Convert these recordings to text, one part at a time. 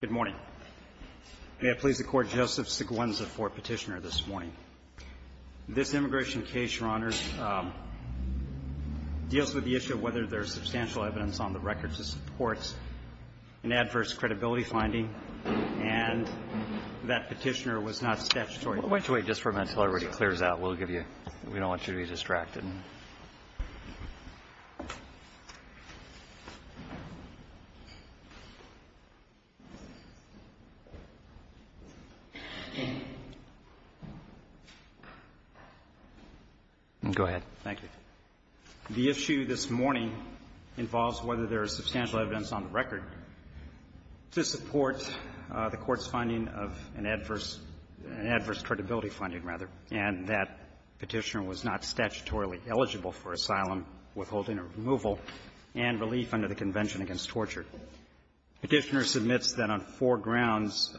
Good morning. May it please the Court, Joseph Seguenza for Petitioner this morning. This immigration case, Your Honors, deals with the issue of whether there is substantial evidence on the record to support an adverse credibility finding, and that Petitioner was not statutory. I want you to wait just for a minute until everybody clears out. We'll give you we don't want you to be distracted. Go ahead. Thank you. The issue this morning involves whether there is substantial evidence on the record to support the Court's finding of an adverse credibility finding, rather, and that Petitioner was not statutorily eligible for asylum, withholding or removal, and relief under the Convention Against Torture. Petitioner submits that on four grounds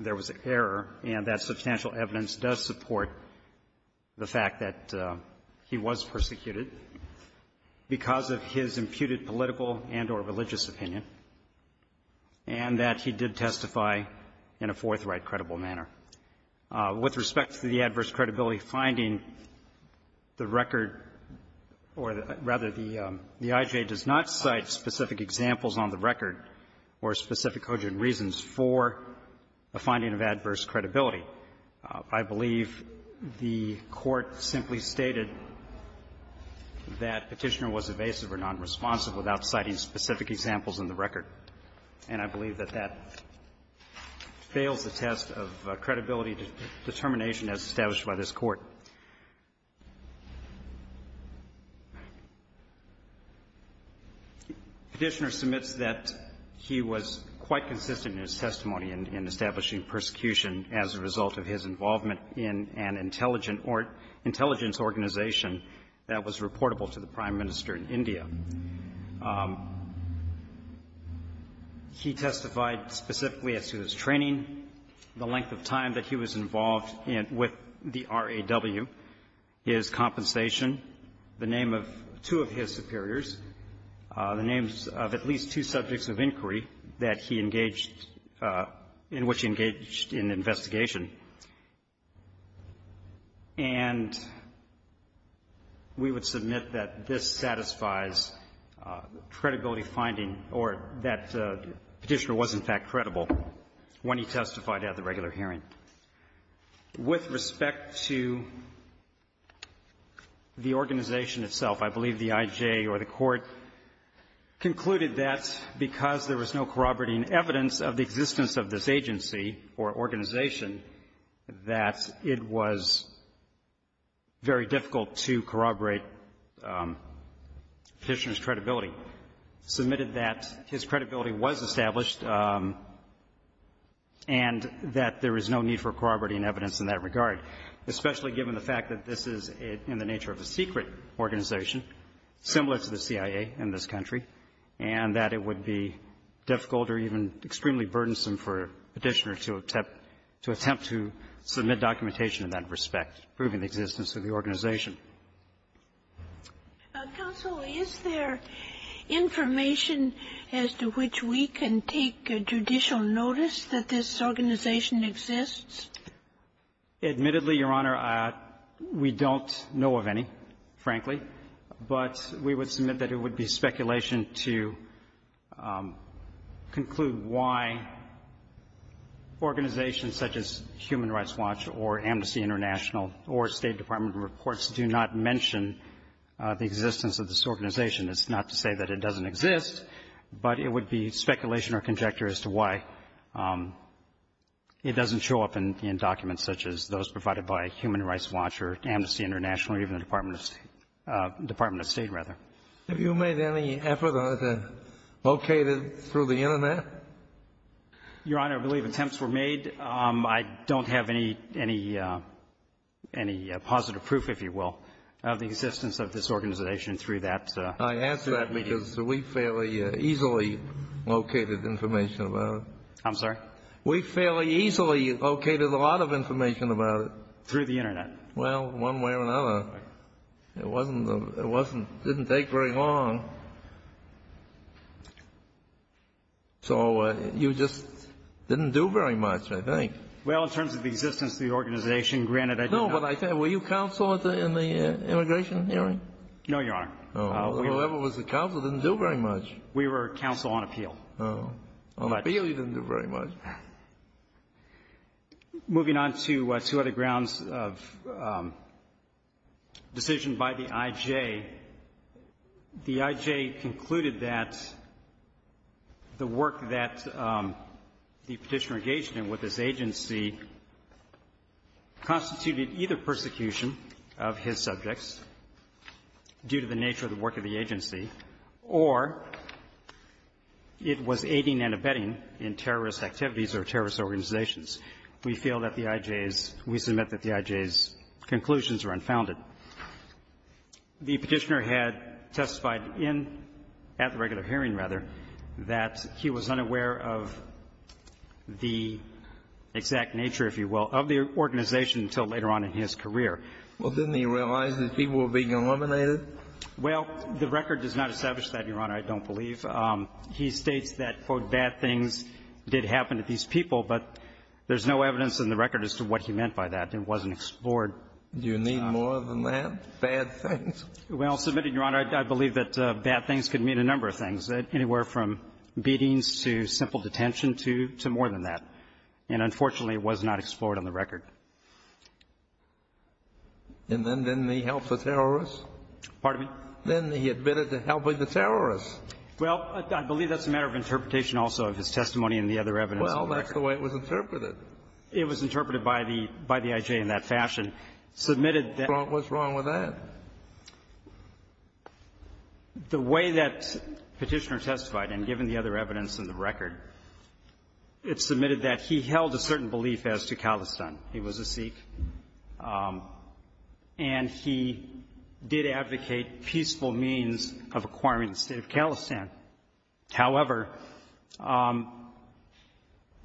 there was error, and that substantial evidence does support the fact that he was persecuted because of his imputed political and or religious opinion, and that he did testify in a forthright, credible manner. We'll give you With respect to the adverse credibility finding, the record or, rather, the IJ does not cite specific examples on the record or specific cogent reasons for a finding of adverse credibility. I believe the Court simply stated that Petitioner was evasive or nonresponsive without citing specific examples in the record, and I believe that that fails the test of credibility determination as established by this Court. Petitioner submits that he was quite consistent in his testimony in establishing persecution as a result of his involvement in an intelligent or intelligence organization that was reportable to the Prime Minister in India. He testified specifically as to his training, the length of time that he was involved in the RAW, his compensation, the name of two of his superiors, the names of at least two subjects of inquiry that he engaged in, which he engaged in investigation. And we would submit that this satisfies credibility finding or that Petitioner was, in fact, credible when he testified at the regular hearing. With respect to the organization itself, I believe the IJ or the Court concluded that because there was no corroborating evidence of the existence of this agency or organization, that it was very difficult to corroborate Petitioner's credibility. Submitted that his credibility was established and that there is no need for corroborating evidence in that regard, especially given the fact that this is in the nature of a secret organization, similar to the CIA in this country, and that it would be difficult or even extremely burdensome for Petitioner to attempt to submit documentation in that respect, proving the existence of the organization. Counsel, is there information as to which we can take judicial notice that this organization exists? Admittedly, Your Honor, we don't know of any, frankly. But we would submit that it would be speculation to conclude why organizations such as Human Rights Watch or Amnesty International or State Department reports do not mention the existence of this organization. It's not to say that it doesn't exist, but it would be speculation or conjecture as to why it doesn't show up in documents such as those provided by Human Rights Watch or Amnesty International or even the Department of State, rather. Have you made any effort to locate it through the Internet? Your Honor, I believe attempts were made. I don't have any positive proof, if you will, of the existence of this organization through that meeting. I ask that because we fairly easily located information about it. I'm sorry? We fairly easily located a lot of information about it. Through the Internet. Well, one way or another. It wasn't the — it wasn't — didn't take very long. So you just didn't do very much, I think. Well, in terms of the existence of the organization, granted, I didn't — No, but I — were you counsel in the immigration hearing? No, Your Honor. Whoever was the counsel didn't do very much. We were counsel on appeal. Oh. On appeal, you didn't do very much. Well, moving on to two other grounds of decision by the I.J., the I.J. concluded that the work that the Petitioner engaged in with this agency constituted either persecution of his subjects due to the nature of the work of the agency, or it was aiding and abetting in terrorist activities or terrorist organizations. We feel that the I.J.'s — we submit that the I.J.'s conclusions are unfounded. The Petitioner had testified in — at the regular hearing, rather, that he was unaware of the exact nature, if you will, of the organization until later on in his career. Well, didn't he realize that people were being eliminated? Well, the record does not establish that, Your Honor. I don't believe. He states that, quote, bad things did happen to these people, but there's no evidence in the record as to what he meant by that. It wasn't explored. Do you need more than that, bad things? Well, submitted, Your Honor, I believe that bad things could mean a number of things, anywhere from beatings to simple detention to — to more than that. And unfortunately, it was not explored on the record. And then didn't he help the terrorists? Pardon me? Then he admitted to helping the terrorists. Well, I believe that's a matter of interpretation also of his testimony and the other evidence. Well, that's the way it was interpreted. It was interpreted by the — by the I.J. in that fashion. Submitted that — What's wrong with that? The way that Petitioner testified, and given the other evidence in the record, it's submitted that he held a certain belief as to Khalistan. He was a Sikh. And he did advocate peaceful means of acquiring the state of Khalistan. However,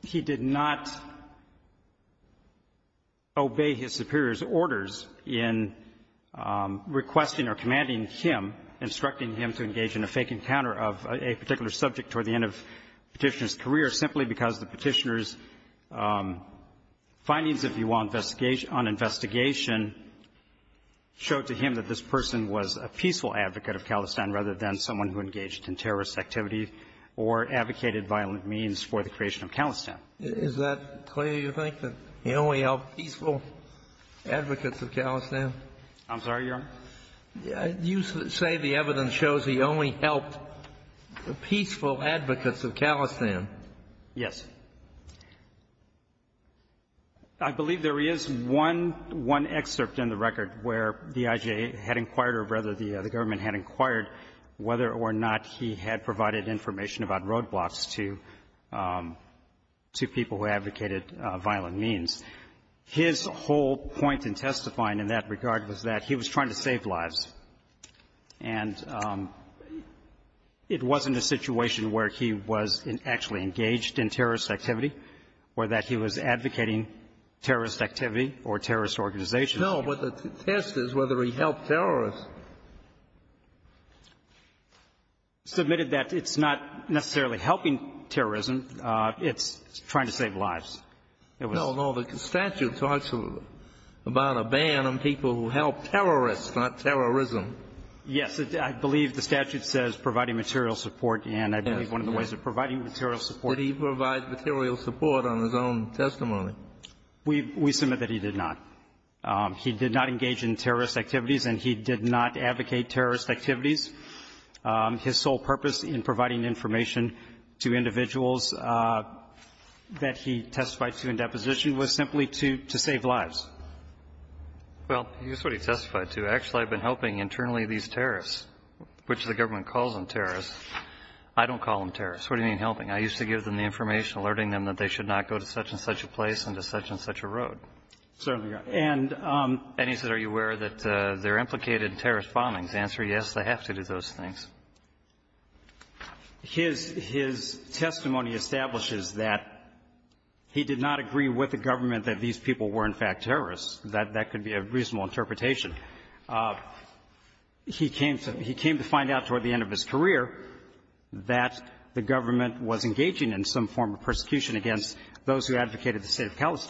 he did not obey his superior's orders in requesting or commanding him, instructing him to engage in a fake encounter of a particular subject toward the end of Petitioner's career simply because the Petitioner's findings, if you will, on investigation, showed to him that this person was a peaceful advocate of Khalistan rather than someone who engaged in terrorist activity or advocated violent means for the creation of Khalistan. Is that clear, you think, that he only helped peaceful advocates of Khalistan? I'm sorry, Your Honor? You say the evidence shows he only helped peaceful advocates of Khalistan. Yes. I believe there is one — one excerpt in the record where the I.J. had inquired or rather the government had inquired whether or not he had provided information about roadblocks to — to people who advocated violent means. His whole point in testifying in that regard was that he was trying to save lives. And it wasn't a situation where he was actually engaged in terrorist activity or that he was advocating terrorist activity or terrorist organizations. No. But the test is whether he helped terrorists. He submitted that it's not necessarily helping terrorism. It's trying to save lives. No, no. The statute talks about a ban on people who help terrorists, not terrorism. Yes. I believe the statute says providing material support. And I believe one of the ways of providing material support — Did he provide material support on his own testimony? We — we submit that he did not. He did not engage in terrorist activities, and he did not advocate terrorist activities. His sole purpose in providing information to individuals that he testified to in deposition was simply to — to save lives. Well, that's what he testified to. Actually, I've been helping internally these terrorists, which the government calls them terrorists. I don't call them terrorists. What do you mean helping? I used to give them the information alerting them that they should not go to such and such a place and to such and such a road. Certainly, Your Honor. And — And he said, are you aware that they're implicated in terrorist bombings? His answer, yes, they have to do those things. His — his testimony establishes that he did not agree with the government that these people were, in fact, terrorists. That — that could be a reasonable interpretation. He came to — he came to find out toward the end of his career that the government was engaging in some form of persecution against those who advocated the State of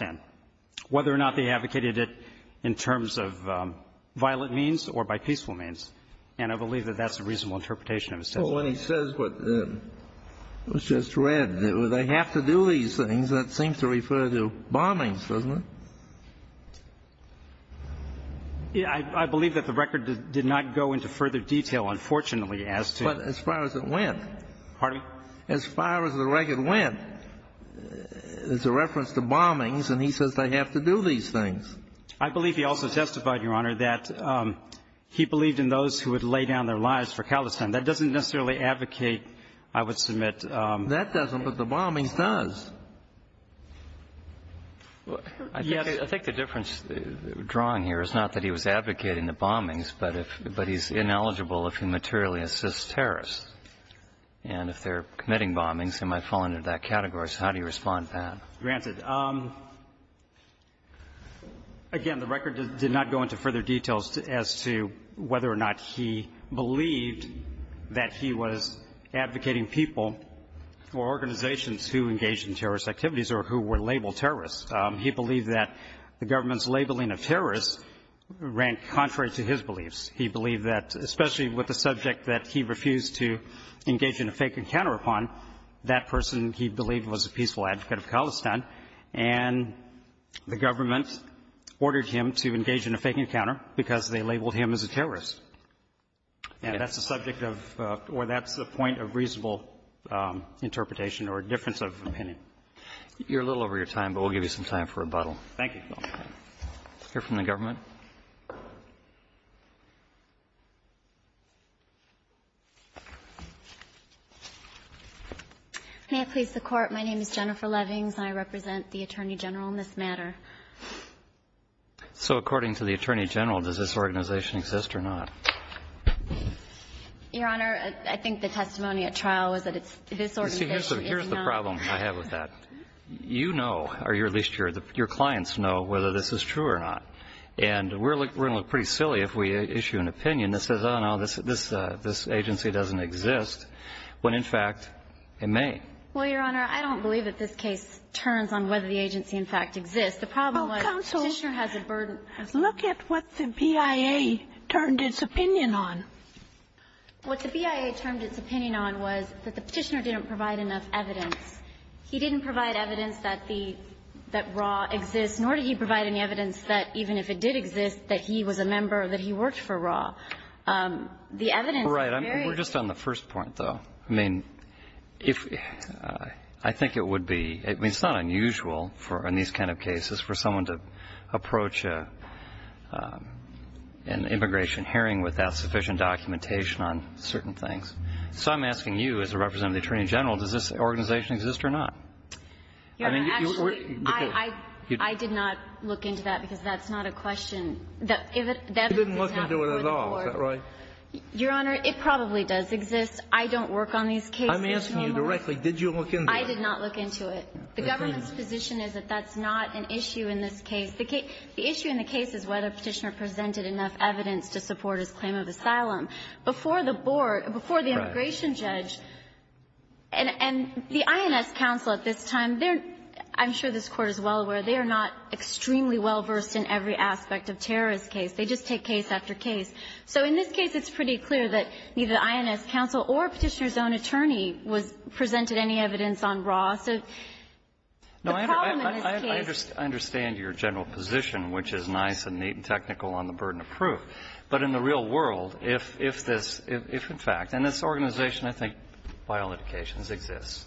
And I believe that that's a reasonable interpretation of his testimony. Well, when he says what was just read, they have to do these things, that seems to refer to bombings, doesn't it? I believe that the record did not go into further detail, unfortunately, as to — But as far as it went. Pardon me? As far as the record went, it's a reference to bombings, and he says they have to do these things. I believe he also testified, Your Honor, that he believed in those who would lay down their lives for Khalistan. That doesn't necessarily advocate, I would submit — That doesn't, but the bombings does. I think the difference drawn here is not that he was advocating the bombings, but if — but he's ineligible if he materially assists terrorists. And if they're committing bombings, they might fall under that category. So how do you respond to that? Granted. Again, the record did not go into further details as to whether or not he believed that he was advocating people or organizations who engaged in terrorist activities or who were labeled terrorists. He believed that the government's labeling of terrorists ran contrary to his beliefs. He believed that, especially with the subject that he refused to engage in a fake encounter upon, that person he believed was a peaceful advocate of Khalistan. And the government ordered him to engage in a fake encounter because they labeled him as a terrorist. And that's the subject of — or that's the point of reasonable interpretation or difference of opinion. You're a little over your time, but we'll give you some time for rebuttal. Thank you. Let's hear from the government. May I please the Court? My name is Jennifer Levings. I represent the Attorney General in this matter. So according to the Attorney General, does this organization exist or not? Your Honor, I think the testimony at trial was that it's — this organization is not. You see, here's the problem I have with that. You know, or at least your clients know, whether this is true or not. And we're going to look pretty silly if we issue an opinion that says, oh, no, this agency doesn't exist, when, in fact, it may. Well, Your Honor, I don't believe that this case turns on whether the agency, in fact, exists. The problem was the Petitioner has a burden. Counsel, look at what the BIA turned its opinion on. What the BIA turned its opinion on was that the Petitioner didn't provide enough evidence. He didn't provide evidence that the — that Ra exists, nor did he provide any evidence that, even if it did exist, that he was a member, that he worked for Ra. The evidence varies. Right. We're just on the first point, though. I mean, if — I think it would be — I mean, it's not unusual for — in these kind of cases, for someone to approach an immigration hearing without sufficient documentation on certain things. So I'm asking you, as a representative of the Attorney General, does this organization exist or not? I mean, you — I did not look into that because that's not a question. The evidence did not come to the Court. You didn't look into it at all, is that right? Your Honor, it probably does exist. I don't work on these cases. I'm asking you directly. Did you look into it? I did not look into it. The government's position is that that's not an issue in this case. The issue in the case is whether Petitioner presented enough evidence to support his claim of asylum. Before the board — before the immigration judge — Right. And the INS counsel at this time, they're — I'm sure this Court is well aware they are not extremely well-versed in every aspect of terrorist case. They just take case after case. So in this case, it's pretty clear that neither the INS counsel or Petitioner's own attorney was — presented any evidence on Ross. So the problem in this case — No, I understand your general position, which is nice and neat and technical on the burden of proof. But in the real world, if this — if, in fact — and this organization, I think, by all indications, exists.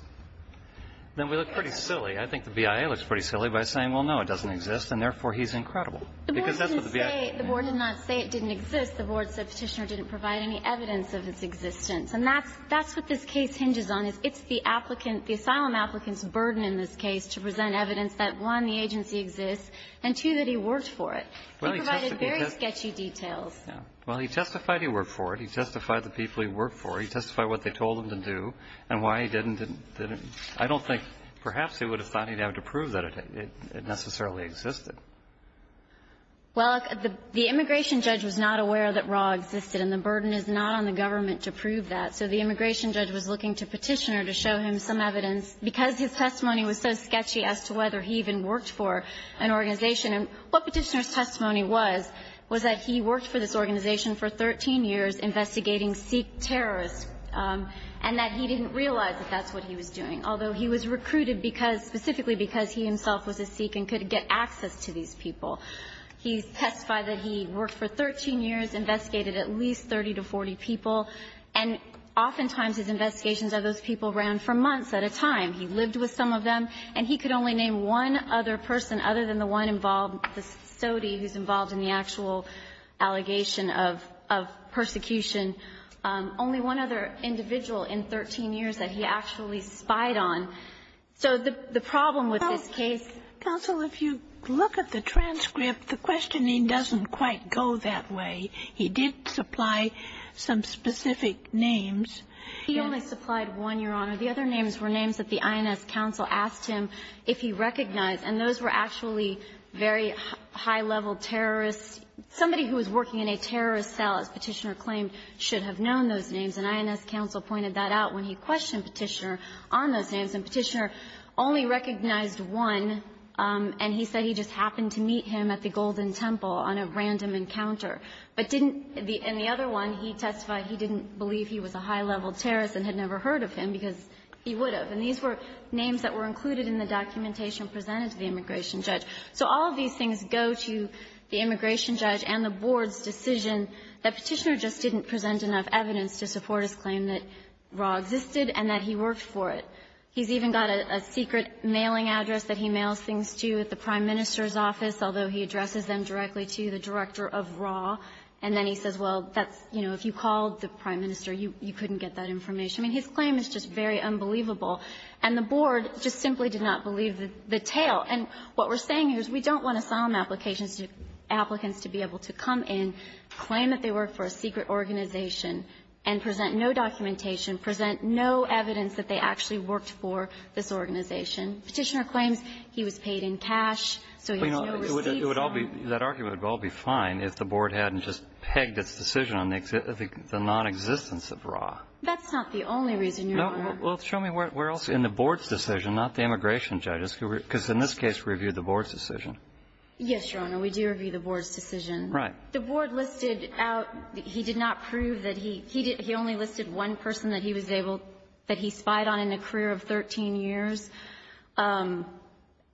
Then we look pretty silly. I think the BIA looks pretty silly by saying, well, no, it doesn't exist, and therefore he's incredible. Because that's what the BIA — The board didn't say — the board did not say it didn't exist. The board said Petitioner didn't provide any evidence of its existence. And that's — that's what this case hinges on, is it's the applicant — the asylum applicant's burden in this case to present evidence that, one, the agency exists, and, two, that he worked for it. He provided very sketchy details. Well, he testified he worked for it. He testified the people he worked for. He testified what they told him to do and why he did and didn't. I don't think — perhaps he would have thought he'd have to prove that it necessarily existed. Well, the immigration judge was not aware that RAW existed, and the burden is not on the government to prove that. So the immigration judge was looking to Petitioner to show him some evidence. Because his testimony was so sketchy as to whether he even worked for an organization and what Petitioner's testimony was, was that he worked for this organization for 13 years investigating Sikh terrorists, and that he didn't realize that that's what he was doing, although he was recruited because — specifically because he himself was a Sikh and could get access to these people. He testified that he worked for 13 years, investigated at least 30 to 40 people, and oftentimes his investigations of those people ran for months at a time. He lived with some of them, and he could only name one other person other than the one involved, the sodie who's involved in the actual allegation of persecution, only one other individual in 13 years that he actually spied on. So the problem with this case — Counsel, if you look at the transcript, the questioning doesn't quite go that way. He did supply some specific names. He only supplied one, Your Honor. The other names were names that the INS counsel asked him if he recognized. And those were actually very high-level terrorists, somebody who was working in a terrorist cell, as Petitioner claimed, should have known those names. And INS counsel pointed that out when he questioned Petitioner on those names. And Petitioner only recognized one, and he said he just happened to meet him at the Golden Temple on a random encounter. But didn't — and the other one, he testified he didn't believe he was a high-level terrorist and had never heard of him because he would have. And these were names that were included in the documentation presented to the immigration judge. So all of these things go to the immigration judge and the Board's decision that Petitioner just didn't present enough evidence to support his claim that RAH existed and that he worked for it. He's even got a secret mailing address that he mails things to at the prime minister's office, although he addresses them directly to the director of RAH. And then he says, well, that's, you know, if you called the prime minister, you couldn't get that information. I mean, his claim is just very unbelievable. And the Board just simply did not believe the tale. And what we're saying here is we don't want asylum applications to — applicants to be able to come in, claim that they work for a secret organization, and present no documentation, present no evidence that they actually worked for this organization. It would all be — that argument would all be fine if the Board hadn't just pegged its decision on the non-existence of RAH. That's not the only reason, Your Honor. Well, show me where else in the Board's decision, not the immigration judge's, because in this case we reviewed the Board's decision. Yes, Your Honor, we do review the Board's decision. Right. The Board listed out — he did not prove that he — he only listed one person that he was able — that he spied on in a career of 13 years.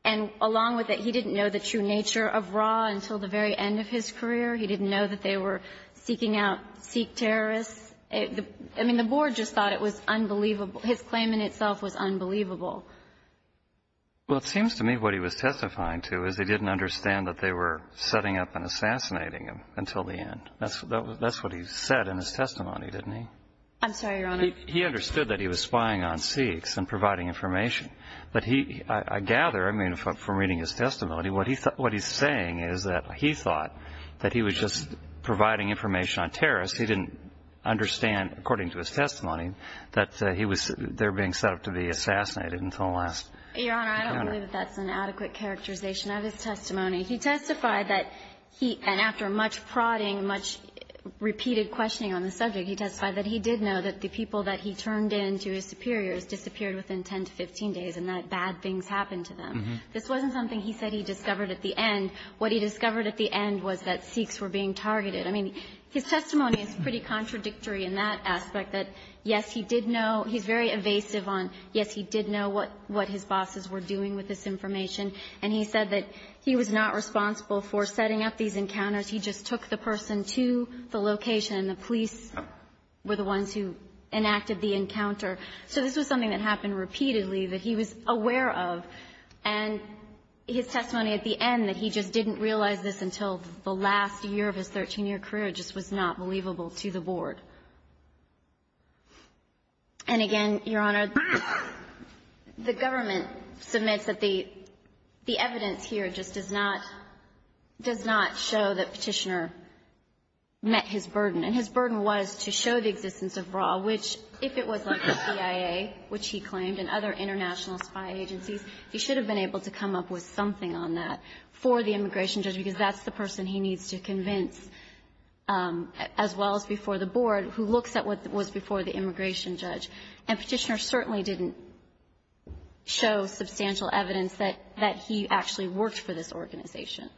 And along with it, he didn't know the true nature of RAH until the very end of his career. He didn't know that they were seeking out Sikh terrorists. I mean, the Board just thought it was unbelievable. His claim in itself was unbelievable. Well, it seems to me what he was testifying to is he didn't understand that they were setting up and assassinating him until the end. That's what he said in his testimony, didn't he? I'm sorry, Your Honor. He understood that he was spying on Sikhs and providing information. But he — I gather, I mean, from reading his testimony, what he's saying is that he thought that he was just providing information on terrorists. He didn't understand, according to his testimony, that he was — they were being set up to be assassinated until the last minute. Your Honor, I don't believe that that's an adequate characterization of his testimony. He testified that he — and after much prodding, much repeated questioning on the subject, he testified that he did know that the people that he turned in to his superiors disappeared within 10 to 15 days and that bad things happened to them. This wasn't something he said he discovered at the end. What he discovered at the end was that Sikhs were being targeted. I mean, his testimony is pretty contradictory in that aspect, that, yes, he did know — he's very evasive on, yes, he did know what his bosses were doing with this information. And he said that he was not responsible for setting up these encounters. He just took the person to the location, and the police were the ones who enacted the encounter. So this was something that happened repeatedly that he was aware of. And his testimony at the end, that he just didn't realize this until the last year of his 13-year career, just was not believable to the Board. And again, Your Honor, the government submits that the evidence here just does not — does not show that Petitioner met his burden. And his burden was to show the existence of RAW, which, if it was like the CIA, which he claimed, and other international spy agencies, he should have been able to come up with something on that for the immigration judge, because that's the person he needs to convince, as well as before the Board, who looks at what was before the immigration judge. And Petitioner certainly didn't show substantial evidence that he actually worked for this organization.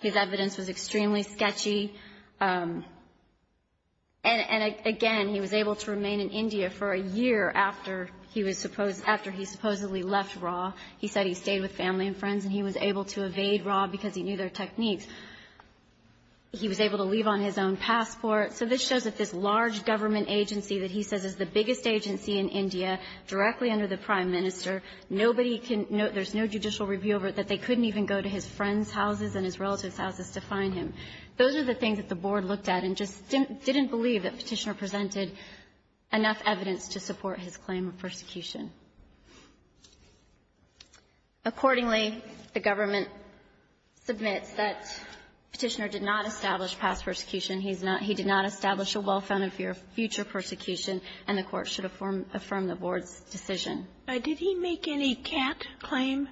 His evidence was extremely sketchy. And again, he was able to remain in India for a year after he was supposed — after he supposedly left RAW. He said he stayed with family and friends, and he was able to evade RAW because he knew their techniques. He was able to leave on his own passport. So this shows that this large government agency that he says is the biggest agency in India, directly under the prime minister, nobody can — there's no judicial review over it, that they couldn't even go to his friends' houses and his relatives' houses to find him. Those are the things that the Board looked at and just didn't believe that Petitioner presented enough evidence to support his claim of persecution. Accordingly, the government submits that Petitioner did not establish past persecution. He's not — he did not establish a well-founded fear of future persecution, and the Court should affirm the Board's decision. Did he make any cat claim?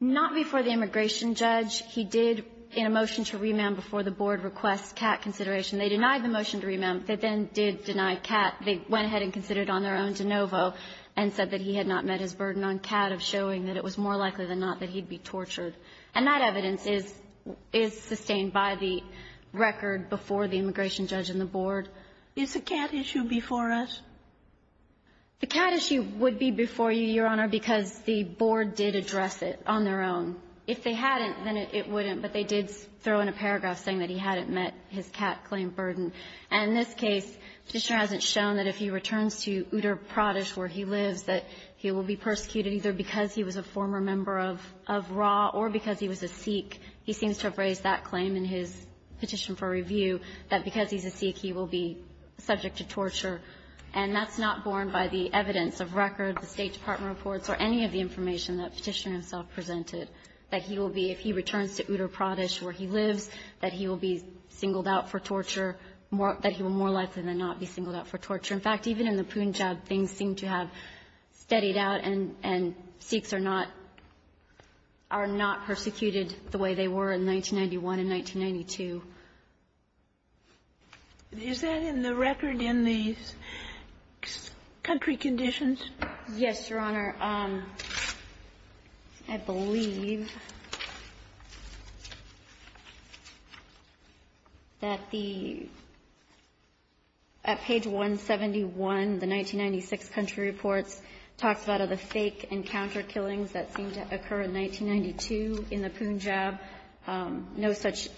Not before the immigration judge. He did in a motion to remand before the Board requests cat consideration. They denied the motion to remand. They then did deny cat. They went ahead and considered on their own de novo and said that he had not met his burden on cat of showing that it was more likely than not that he'd be tortured. And that evidence is — is sustained by the record before the immigration judge and the Board. Is the cat issue before us? The cat issue would be before you, Your Honor, because the Board did address it on their own. If they hadn't, then it wouldn't, but they did throw in a paragraph saying that he hadn't met his cat claim burden. And in this case, Petitioner hasn't shown that if he returns to Utrecht Pradesh where he lives, that he will be persecuted either because he was a former member of — of RAW or because he was a Sikh. He seems to have raised that claim in his petition for review, that because he's a Sikh, he will be subject to torture. And that's not borne by the evidence of record, the State Department reports, or any of the information that Petitioner himself presented, that he will be, if he returns to Utrecht Pradesh where he lives, that he will be singled out for torture more — that he will more likely than not be singled out for torture. In fact, even in the Punjab, things seem to have steadied out and — and Sikhs are not — are not persecuted the way they were in 1991 and 1992. Is that in the record in the country conditions? Yes, Your Honor. I believe that the — at page 171, the 1996 country reports talks about the fake encounter killings that seemed to occur in 1992 in the Punjab. No such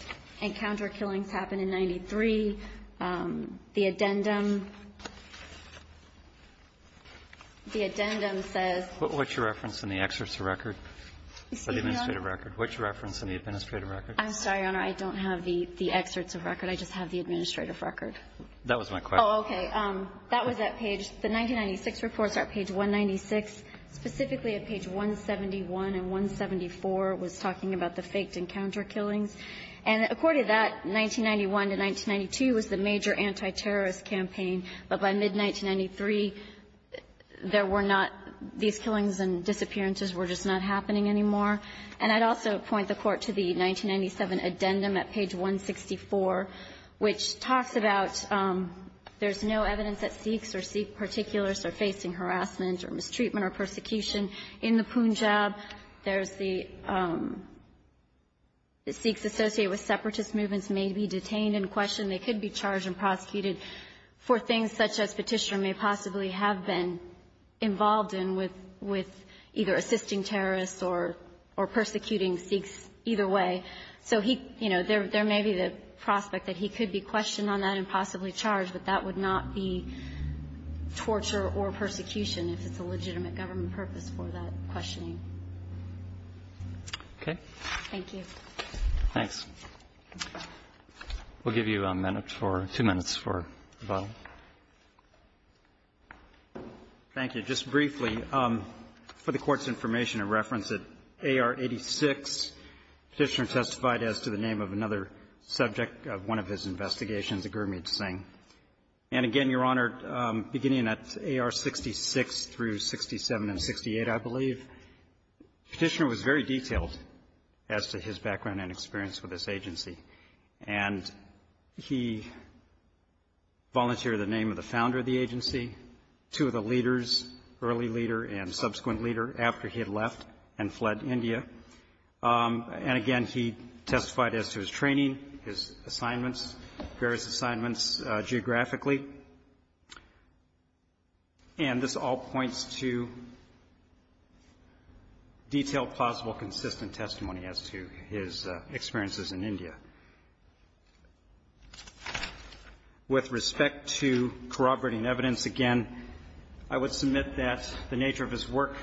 encounter killings happened in 1993. The addendum — the addendum says — What's your reference in the excerpts of record? The administrative record. What's your reference in the administrative record? I'm sorry, Your Honor. I don't have the — the excerpts of record. I just have the administrative record. That was my question. Oh, okay. That was at page — the 1996 reports are at page 196. Specifically at page 171 and 174 was talking about the faked encounter killings. And according to that, 1991 to 1992 was the major antiterrorist campaign. But by mid-1993, there were not — these killings and disappearances were just not happening anymore. And I'd also point the Court to the 1997 addendum at page 164, which talks about there's no evidence that Sikhs or Sikh particulars are facing harassment or mistreatment or persecution in the Punjab. There's the — the Sikhs associated with separatist movements may be detained and questioned. They could be charged and prosecuted for things such as Petitioner may possibly have been involved in with — with either assisting terrorists or — or persecuting Sikhs either way. So he — you know, there may be the prospect that he could be questioned on that and possibly charged, but that would not be torture or persecution if it's a legitimate government purpose for that questioning. Okay. Thank you. Thanks. We'll give you a minute for — two minutes for the bottle. Thank you. Just briefly, for the Court's information and reference, at AR-86, Petitioner testified as to the name of another subject of one of his investigations, a Gurmeet Singh. And again, Your Honor, beginning at AR-66 through 67 and 68, I believe, Petitioner was very detailed as to his background and experience with this agency. And he volunteered the name of the founder of the agency, two of the leaders, early leader and subsequent leader, after he had left and fled India. And again, he testified as to his training, his assignments, various assignments geographically. And this all points to detailed, plausible, consistent testimony as to his background. With respect to corroborating evidence, again, I would submit that the nature of his work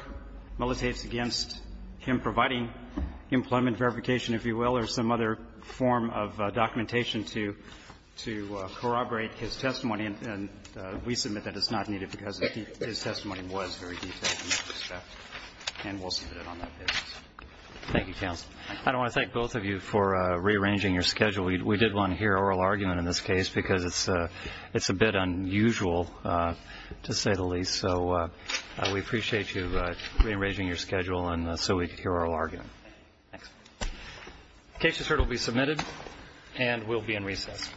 militates against him providing employment verification, if you will, or some other form of documentation to corroborate his testimony. And we submit that it's not needed because his testimony was very detailed in that respect. And we'll submit it on that basis. Thank you, counsel. I want to thank both of you for rearranging your schedule. We did want to hear oral argument in this case because it's a bit unusual, to say the least. So we appreciate you rearranging your schedule so we could hear oral argument. Thanks. The case is heard and will be submitted and will be in recess.